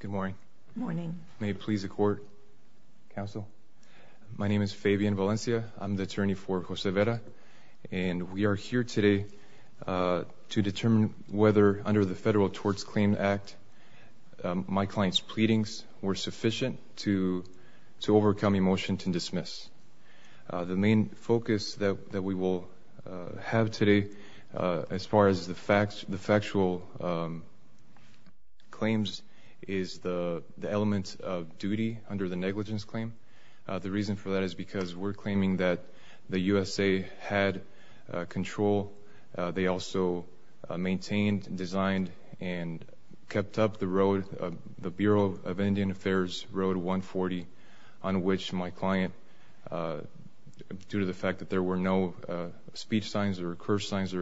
Good morning. Morning. May it please the court, counsel. My name is Fabian Valencia. I'm the attorney for Jose Vera and we are here today to determine whether under the Federal Torts Claims Act my client's pleadings were sufficient to to overcome a motion to dismiss. The main focus that we will have today as far as the factual claims is the element of duty under the negligence claim. The reason for that is because we're claiming that the USA had control. They also maintained, designed, and kept up the road, the Bureau of Indian Affairs Road 140, on which my client, due to the fact that there were no speech signs or speech signs,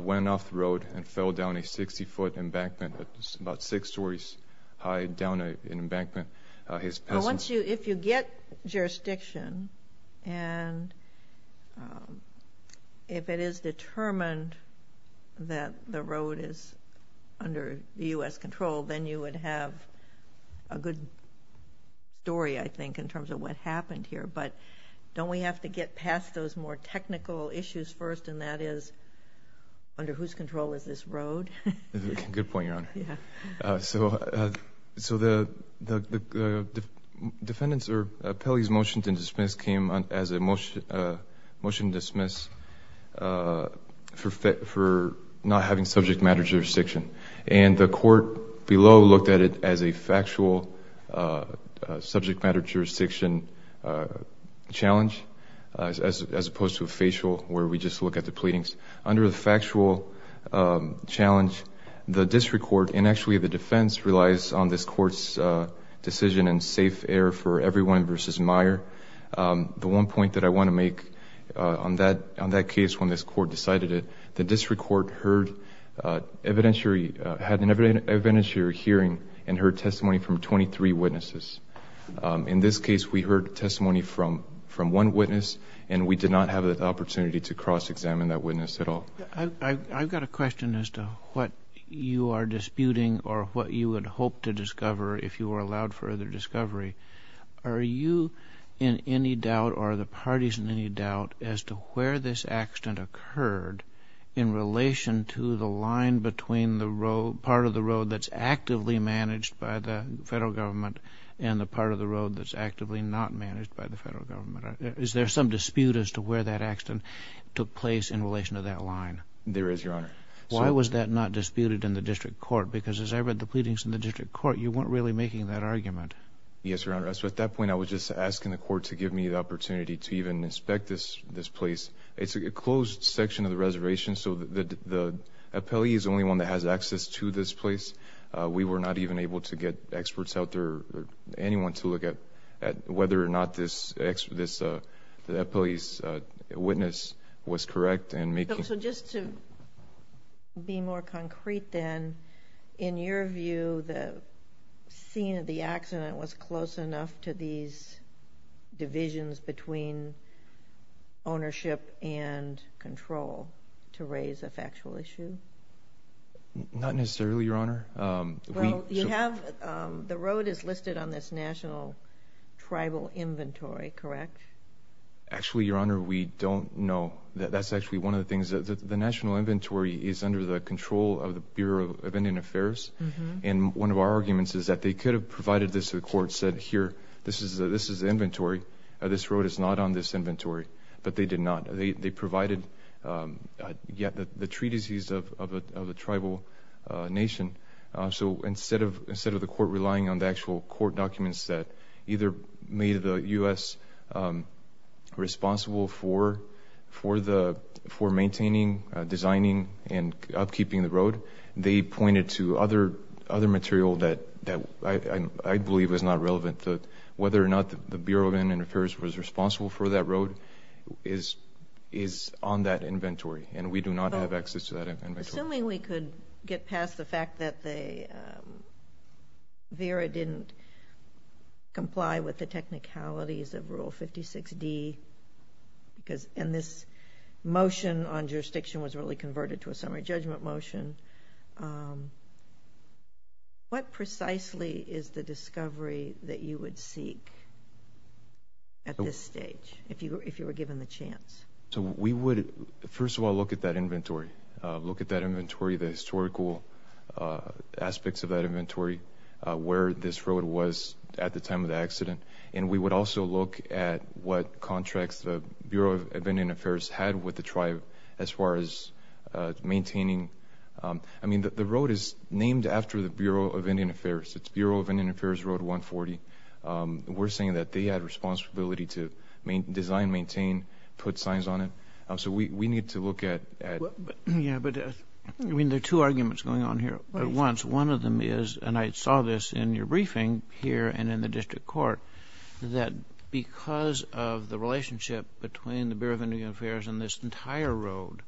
went off the road and fell down a 60-foot embankment, about six stories high, down an embankment. If you get jurisdiction and if it is determined that the road is under the U.S. control, then you would have a good story, I think, in terms of what happened here. But don't we have to get past those more technical issues first and that is, under whose control is this road? Good point, Your Honor. The defendant's or Pele's motion to dismiss came as a motion to dismiss for not having subject matter jurisdiction. The court below looked at it as a factual subject matter jurisdiction challenge, as opposed to a facial where we just look at the pleadings. Under the factual challenge, the district court, and actually the defense, relies on this court's decision and safe air for everyone versus Meyer. The one point that I want to make on that case when this court decided it, the district court heard evidentiary... had an evidentiary hearing and heard testimony from 23 witnesses. In this case, we heard testimony from one witness and we did not have the opportunity to cross-examine that witness at all. I've got a question as to what you are disputing or what you would hope to discover if you were allowed further discovery. Are you in any doubt or are the parties in any doubt as to where this accident occurred in relation to the line between the part of the road that's actively managed by the federal government and the part of the road that's actively not managed by the federal government? Is there some dispute as to where that accident took place in relation to that line? There is, Your Honor. Why was that not disputed in the district court? Because as I read the pleadings in the district court, you weren't really making that argument. Yes, Your Honor. At that point, I was just asking the court to give me the opportunity to even inspect this place. It's a closed section of the reservation, so the appellee is the only one that has access to this place. We were not even able to get experts out there or anyone to look at whether or not the appellee's witness was correct in making... So just to be more concrete then, in your view, the scene of the accident was close enough to these divisions between ownership and control to raise a factual issue? Not necessarily, Your Honor. The road is listed on this National Tribal Inventory, correct? Actually, Your Honor, we don't know. That's actually one of the things. The National Inventory is under the control of the Bureau of Indian Affairs, and one of our arguments is that they could have provided this to the court, said, here, this is the inventory. This road is not on this inventory, but they did not. They provided the treatises of the tribal nation. So instead of the court relying on the actual court documents that either made the U.S. responsible for maintaining, designing, and upkeeping the road, they provided other material that I believe is not relevant. Whether or not the Bureau of Indian Affairs was responsible for that road is on that inventory, and we do not have access to that inventory. Assuming we could get past the fact that the VERA didn't comply with the technicalities of Rule 56D, and this motion on What precisely is the discovery that you would seek at this stage, if you were given the chance? So we would, first of all, look at that inventory. Look at that inventory, the historical aspects of that inventory, where this road was at the time of the accident, and we would also look at what contracts the Bureau of Indian Affairs had with the tribe as far as maintaining. I mean, the road is Bureau of Indian Affairs. It's Bureau of Indian Affairs Road 140. We're saying that they had responsibility to design, maintain, put signs on it. So we need to look at... Yeah, but I mean, there are two arguments going on here at once. One of them is, and I saw this in your briefing here and in the district court, that because of the relationship between the Bureau of Indian Affairs and this entire road,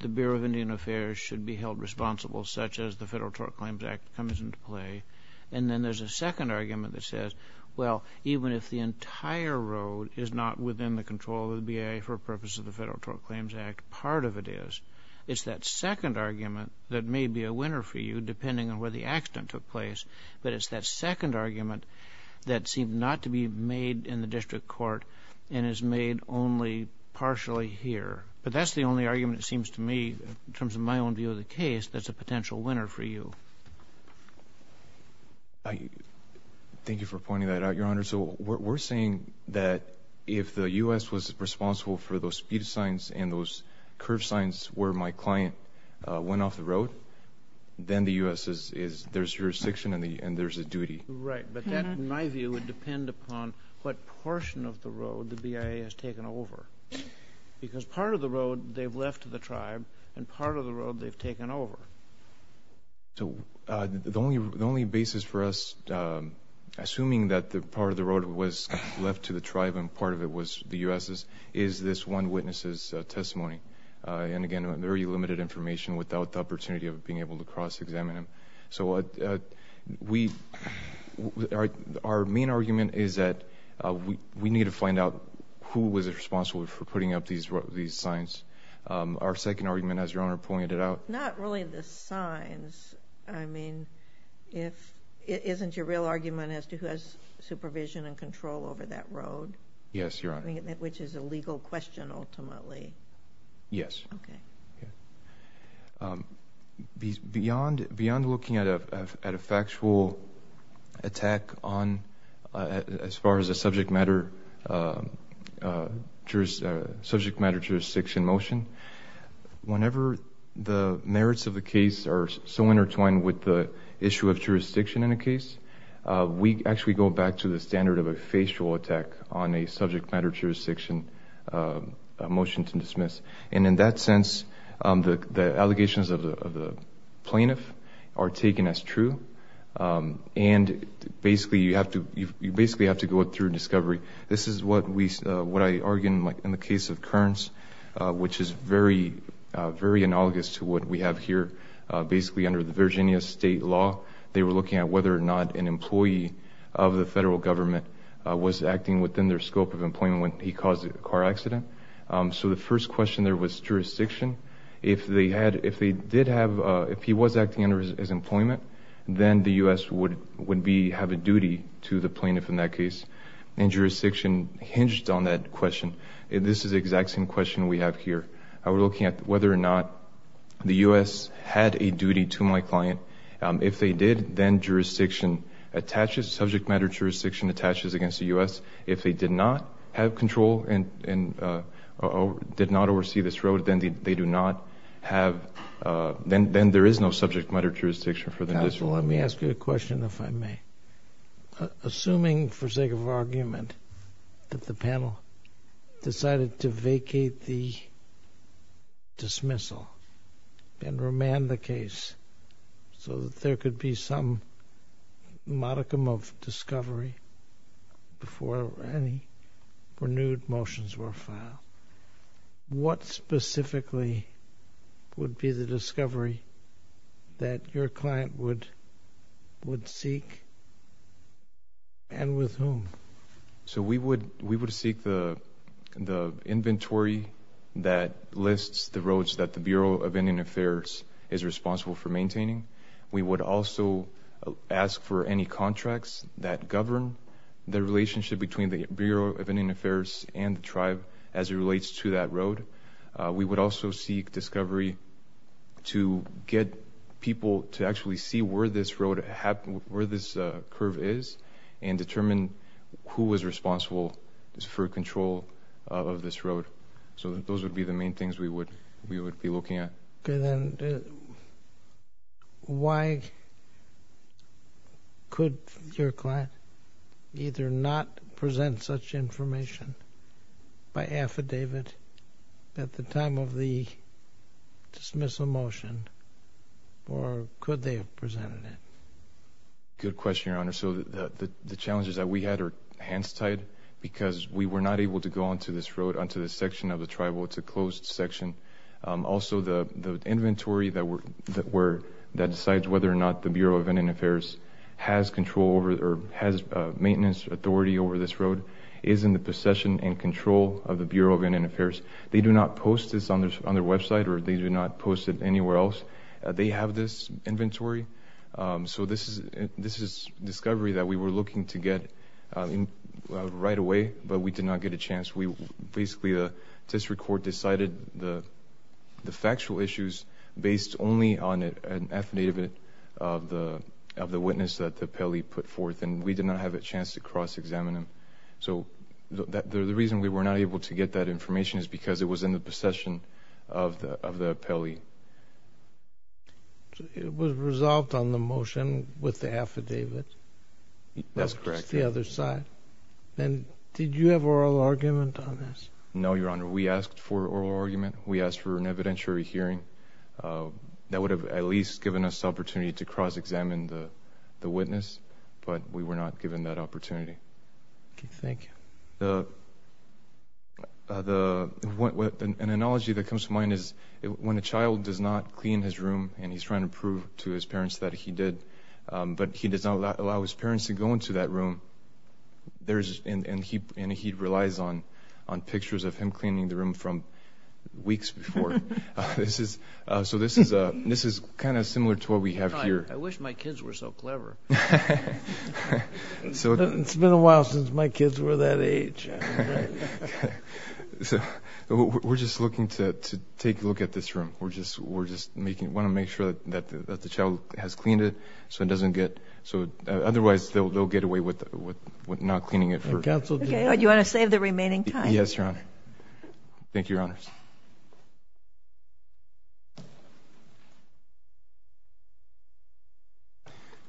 the Bureau of Indian Affairs should be held responsible, such as the Federal Tort Claims Act comes into play. And then there's a second argument that says, well, even if the entire road is not within the control of the BIA for purpose of the Federal Tort Claims Act, part of it is. It's that second argument that may be a winner for you, depending on where the accident took place, but it's that second argument that seemed not to be made in the district court and is made only partially here. But that's the only argument, it seems to me, in the district court that's a potential winner for you. Thank you for pointing that out, Your Honor. So we're saying that if the U.S. was responsible for those speed signs and those curve signs where my client went off the road, then the U.S. is, there's jurisdiction and there's a duty. Right, but that, in my view, would depend upon what portion of the road the BIA has taken over. Because part of the So the only basis for us, assuming that the part of the road was left to the tribe and part of it was the U.S.'s, is this one witness's testimony. And again, very limited information without the opportunity of being able to cross examine him. So we, our main argument is that we need to find out who was responsible for putting up these signs. Our second argument, as Your Honor, I mean, if it isn't your real argument as to who has supervision and control over that road. Yes, Your Honor. Which is a legal question ultimately. Yes. Okay. Beyond looking at a factual attack on, as far as a subject matter jurisdiction motion, whenever the cases are so intertwined with the issue of jurisdiction in a case, we actually go back to the standard of a facial attack on a subject matter jurisdiction motion to dismiss. And in that sense, the allegations of the plaintiff are taken as true. And basically, you have to, you basically have to go through discovery. This is what we, what I argue in the case of Kearns, which is very, very analogous to what we have here. Basically under the Virginia state law, they were looking at whether or not an employee of the federal government was acting within their scope of employment when he caused a car accident. So the first question there was jurisdiction. If they had, if they did have, if he was acting under his employment, then the U.S. would be, have a duty to the plaintiff in that case. And jurisdiction hinged on that question. This is the the U.S. had a duty to my client. If they did, then jurisdiction attaches, subject matter jurisdiction attaches against the U.S. If they did not have control and did not oversee this road, then they do not have, then there is no subject matter jurisdiction for them. Counsel, let me ask you a question, if I may. Assuming, for sake of argument, that the panel decided to vacate the dismissal and remand the case so that there could be some modicum of discovery before any renewed motions were filed, what specifically would be the discovery that your client would, would seek and with whom? So we would, we would seek the, the inventory that lists the roads that the Bureau of Indian Affairs is responsible for maintaining. We would also ask for any contracts that govern the relationship between the Bureau of Indian Affairs and the tribe as it relates to that road. We would also seek discovery to get people to actually see where this road, where this curve is and determine who was responsible for control of this road. So those would be the main things we would, we would be looking at. Okay, then why could your client either not present such information by affidavit at the time of the dismissal motion or could they have presented it? Good question, Your Honor. So the, the challenges that we had were hands-tied because we were not able to go onto this road, onto this section of the tribal. It's a closed section. Also the, the inventory that were, that were, that decides whether or not the Bureau of Indian Affairs has control over or has maintenance authority over this road is in the possession and control of the Bureau of Indian Affairs. They do not post this on their, on their website or they do not post it anywhere else. They have this right away but we did not get a chance. We, basically, the district court decided the, the factual issues based only on an affidavit of the, of the witness that the appellee put forth and we did not have a chance to cross-examine them. So that, the reason we were not able to get that information is because it was in the possession of the, of the appellee. It was resolved on the motion with the Bureau's side. And did you have oral argument on this? No, Your Honor. We asked for oral argument. We asked for an evidentiary hearing. That would have at least given us the opportunity to cross-examine the, the witness but we were not given that opportunity. Okay, thank you. The, the, what, what, an analogy that comes to mind is when a child does not clean his room and he's trying to prove to his parents that he did but he does not allow his parents to go into that room, there's, and, and he, and he relies on, on pictures of him cleaning the room from weeks before. This is, so this is a, this is kind of similar to what we have here. I wish my kids were so clever. So it's been a while since my kids were that age. So we're just looking to take a look at this room. We're just, we're just making, want to make sure that, that the child has cleaned it so it doesn't go get away with, with, with not cleaning it for a couple of days. Okay. Do you want to save the remaining time? Yes, Your Honor. Thank you, Your Honors.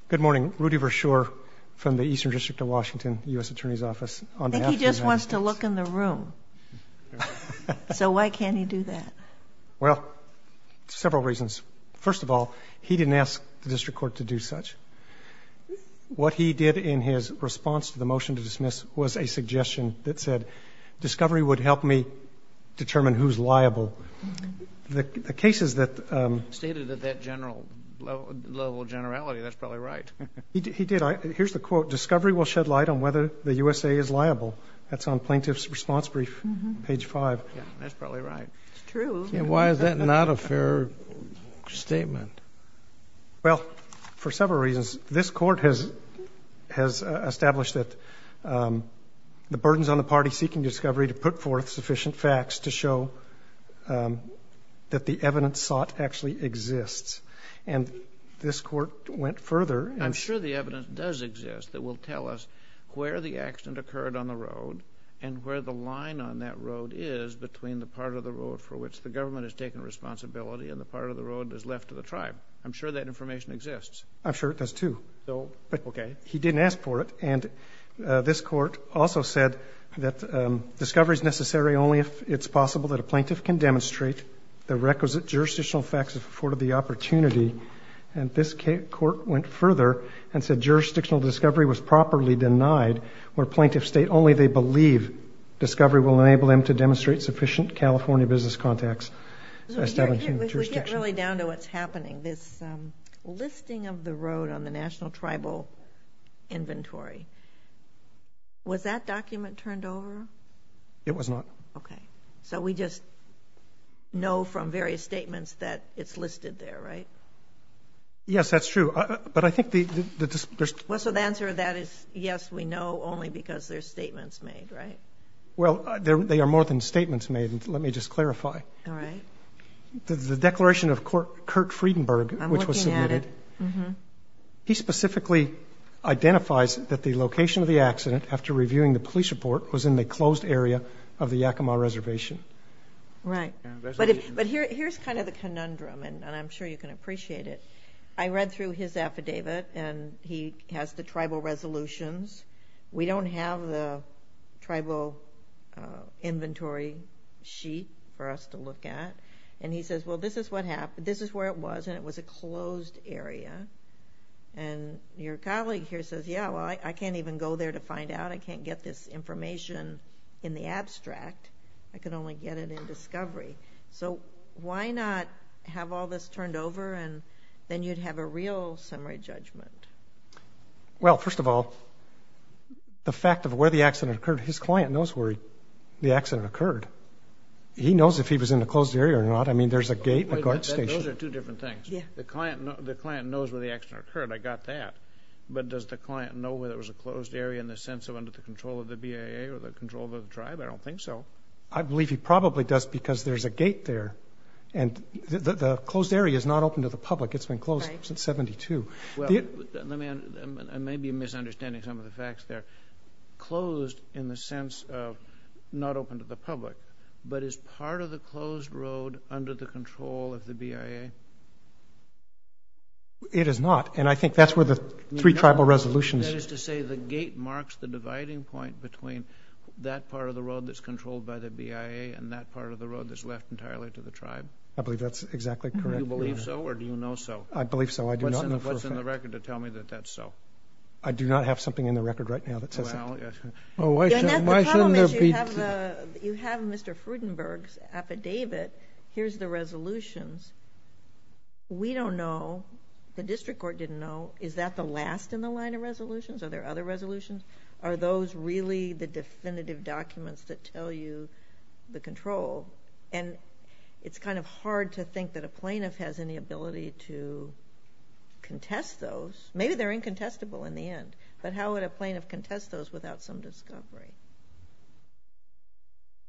Good morning. Rudy Verschoor from the Eastern District of Washington, U.S. Attorney's Office on behalf of the United States. I think he just wants to look in the room. So why can't he do that? Well, several reasons. First of all, he didn't ask the motion to dismiss was a suggestion that said, discovery would help me determine who's liable. The, the cases that. Stated at that general level, level of generality. That's probably right. He, he did. Here's the quote, discovery will shed light on whether the USA is liable. That's on plaintiff's response brief, page five. That's probably right. It's true. Why is that not a fair statement? Well, for several reasons. This court has, has established that the burdens on the party seeking discovery to put forth sufficient facts to show that the evidence sought actually exists. And this court went further. I'm sure the evidence does exist that will tell us where the accident occurred on the road and where the line on that road is between the part of the road for which the government has taken responsibility and the part of the road is left to the tribe. I'm sure that information exists. I'm sure it does too. So, okay. He didn't ask for it. And this court also said that discovery is necessary only if it's possible that a plaintiff can demonstrate the requisite jurisdictional facts if afforded the opportunity. And this court went further and said jurisdictional discovery was properly denied where plaintiff state only they believe discovery will enable them to demonstrate sufficient California business contacts. We get really down to what's happening. This listing of the road on the national tribal inventory. Was that document turned over? It was not. Okay. So we just know from various statements that it's listed there, right? Yes, that's true. But I think the, the, there's, well, so the answer to that is yes, we know only because there's statements made, right? Well, there, they are more than statements made. Let me just clarify. All right. The declaration of court, Kurt Friedenberg, which was submitted, he specifically identifies that the location of the accident after reviewing the police report was in the closed area of the Yakima reservation. Right. But if, but here, here's kind of the conundrum and I'm sure you can appreciate it. I read through his affidavit and he has the tribal resolutions. We don't have the tribal inventory sheet for us to look at. And he says, well, this is what happened. This is where it was, and it was a closed area. And your colleague here says, yeah, well, I can't even go there to find out. I can't get this information in the abstract. I could only get it in discovery. So why not have all this turned over and then you'd have a real summary judgment? Well, first of all, the fact of where the accident occurred, his client knows where the accident occurred. He knows if he was in a closed area or not. I mean, there's a gate, a guard station. Those are two different things. The client, the client knows where the accident occurred. I got that. But does the client know whether it was a closed area in the sense of under the control of the BAA or the control of the tribe? I don't think so. I believe he probably does because there's a gate there and the closed area is not open to the public. It's been closed since 1972. I may be misunderstanding some of the facts there. Closed in the sense of not open to the public, but is part of the closed road under the control of the BIA? It is not, and I think that's where the three tribal resolutions... That is to say the gate marks the dividing point between that part of the road that's controlled by the BIA and that part of the road that's left entirely to the tribe? I believe that's exactly correct. Do you believe so or do you know so? I believe so. I do not know for a fact. What's in the record to tell me that that's so? I do not have something in the record right now that says that. Well, why shouldn't there be? You have Mr. Frudenberg's affidavit. Here's the resolutions. We don't know. The district court didn't know. Is that the last in the line of resolutions? Are there other resolutions? Are those really the definitive documents that tell you the control? And it's kind of hard to think that a plaintiff has any ability to contest those. Maybe they're incontestable in the end, but how would a plaintiff contest those without some discovery?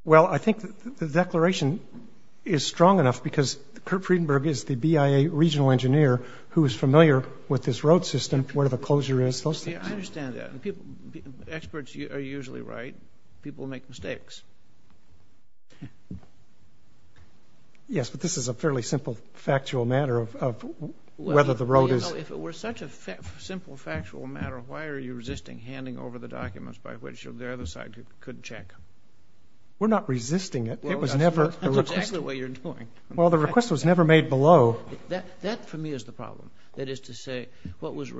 Well, I think the declaration is strong enough because Kurt Frudenberg is the BIA regional engineer who is familiar with this road system, where the closure is. I understand that. Experts are usually right. People make mistakes. Yes, but this is a fairly simple factual matter of whether the road is... If it were such a simple factual matter, why are you resisting handing over the documents by which the other side could check? We're not resisting it. It was never... That's exactly what you're doing. Well, the request was never made below. That for me is the problem. That is to say, it's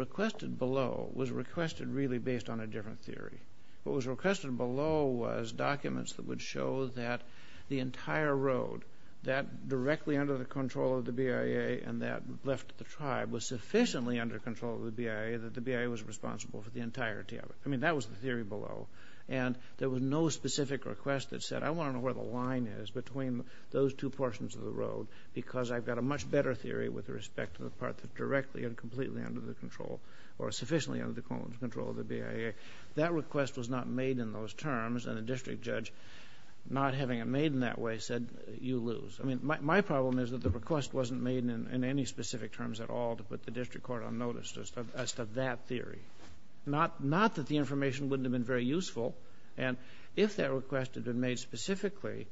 based on a different theory. What was requested below was documents that would show that the entire road that directly under the control of the BIA and that left the tribe was sufficiently under control of the BIA that the BIA was responsible for the entirety of it. I mean, that was the theory below. And there was no specific request that said, I want to know where the line is between those two portions of the road because I've got a much better theory with respect to the part that's directly and completely under the control or sufficiently under control of the BIA. That request was not made in those terms and the district judge, not having it made in that way, said you lose. I mean, my problem is that the request wasn't made in any specific terms at all to put the district court on notice as to that theory. Not that the information wouldn't have been very useful. And if that request had been made specifically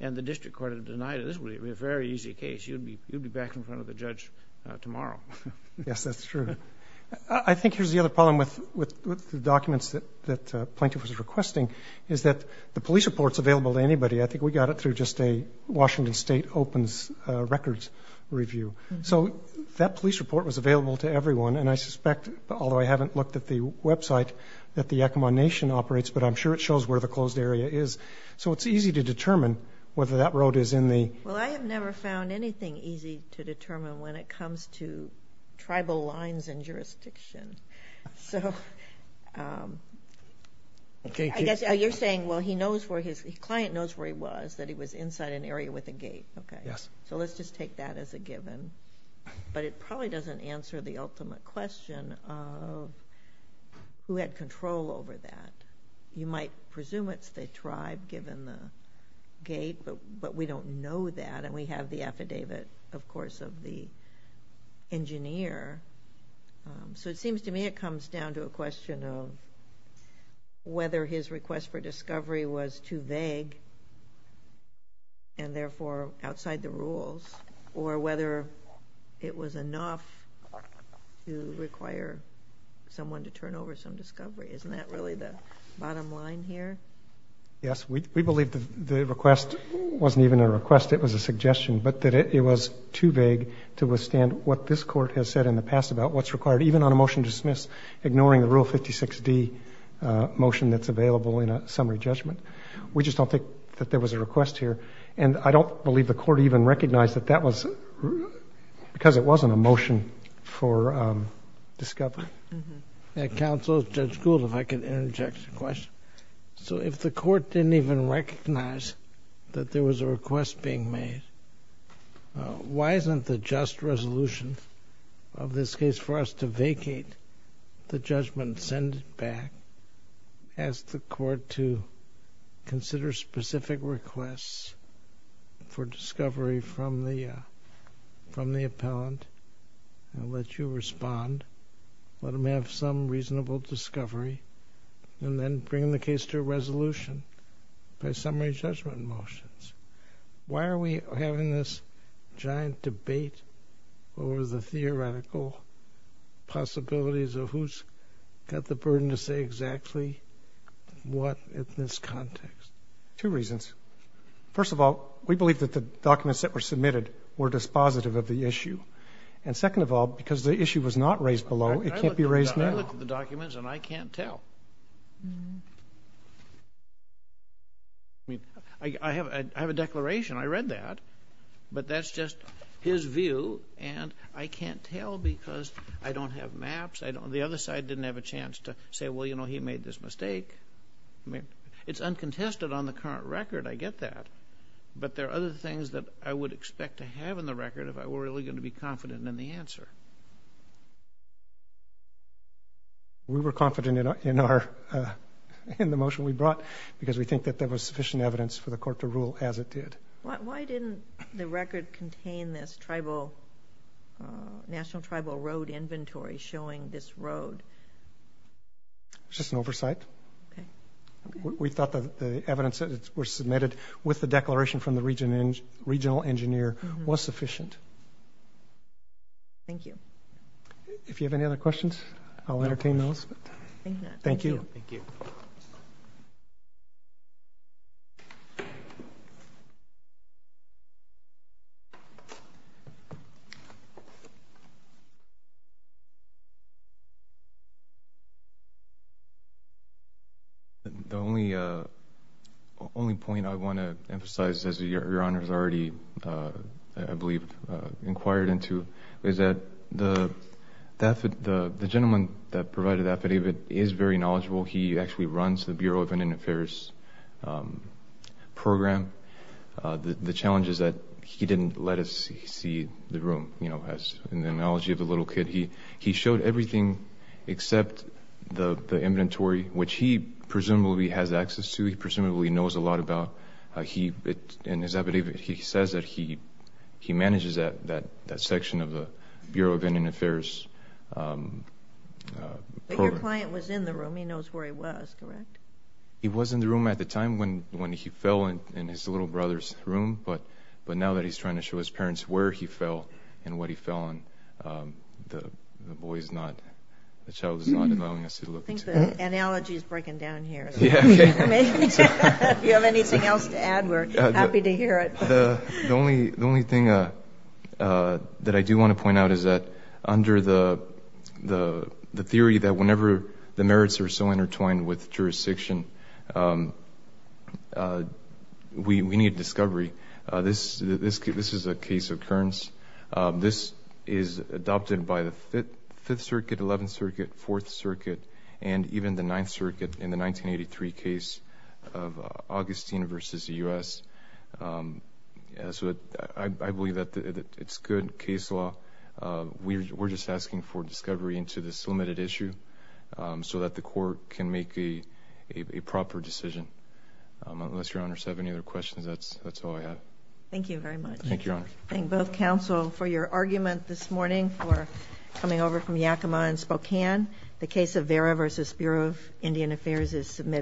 and the district court had denied it, this would be a very easy case. You'd be back in front of the with the documents that Plaintiff was requesting, is that the police report's available to anybody. I think we got it through just a Washington State Opens Records review. So that police report was available to everyone and I suspect, although I haven't looked at the website, that the Yakima Nation operates, but I'm sure it shows where the closed area is. So it's easy to determine whether that road is in the... Well, I have never found anything easy to determine when it comes to tribal lines and jurisdiction. So, I guess you're saying, well, he knows where his... The client knows where he was, that he was inside an area with a gate. Okay. Yes. So let's just take that as a given. But it probably doesn't answer the ultimate question of who had control over that. You might presume it's the tribe given the gate, but we don't know that and we have the affidavit, of the engineer. So it seems to me it comes down to a question of whether his request for discovery was too vague and therefore outside the rules, or whether it was enough to require someone to turn over some discovery. Isn't that really the bottom line here? Yes, we believe the request wasn't even a request, it was a to withstand what this court has said in the past about what's required, even on a motion to dismiss, ignoring the Rule 56D motion that's available in a summary judgment. We just don't think that there was a request here. And I don't believe the court even recognized that that was, because it wasn't a motion for discovery. Counsel, Judge Gould, if I could interject a question. So if the court didn't even recognize that there was a request being made, why isn't the just resolution of this case for us to vacate the judgment, send it back, ask the court to consider specific requests for discovery from the, from the appellant, and let you respond, let them have some reasonable discovery, and then bring the case to a resolution by summary judgment motions? Why are we having this giant debate over the theoretical possibilities of who's got the burden to say exactly what in this context? Two reasons. First of all, we believe that the documents that were submitted were dispositive of the issue. And second of all, because the issue was not raised below, it can't be raised now. I looked at the documents and I can't tell. I mean, I have a declaration, I read that, but that's just his view, and I can't tell because I don't have maps, I don't, the other side didn't have a chance to say, well, you know, he made this mistake. I mean, it's uncontested on the current record, I get that, but there are other things that I would expect to have in the record if I were really going to be confident in the answer. We were confident in our, in the motion we brought because we think that there was sufficient evidence for the court to rule as it did. Why didn't the record contain this tribal, National Tribal Road inventory showing this road? It's just an oversight. We thought that the evidence that were submitted with the record was sufficient. Thank you. If you have any other questions, I'll entertain those. Thank you. The only, only point I want to emphasize, as your Honor's already, I believe, inquired into, is that the gentleman that provided that affidavit is very knowledgeable. He actually runs the Bureau of Indian Affairs program. The challenge is that he didn't let us see the room, you know, as an analogy of a little kid. He showed everything except the inventory, which he presumably has access to, he presumably knows a lot about. He, in his affidavit, he says that he manages that section of the Bureau of Indian Affairs program. But your client was in the room. He knows where he was, correct? He was in the room at the time when he fell in his little brother's room, but now that he's trying to show his parents where he fell and what he fell on, the boy's not, the child is not allowing us to look into it. I think the analogy is breaking down here. If you have anything else to add, we're happy to hear it. The only thing that I do want to point out is that under the theory that whenever the merits are so intertwined with jurisdiction, we need discovery. This is a case of Kearns. This is adopted by the Fifth Circuit, Eleventh Circuit, Fourth Circuit, and even the Ninth Circuit in the 1983 case of Augustine v. U.S. I believe that it's good case law. We're just asking for discovery into this limited issue so that the court can make a proper decision. Unless Your Honor has any other questions, that's all I have. Thank you very much. Thank you, Your Honor. I thank both counsel for your argument this morning, for coming over from Yakima and Spokane. The case of Vera v. Bureau of Indian Affairs is submitted.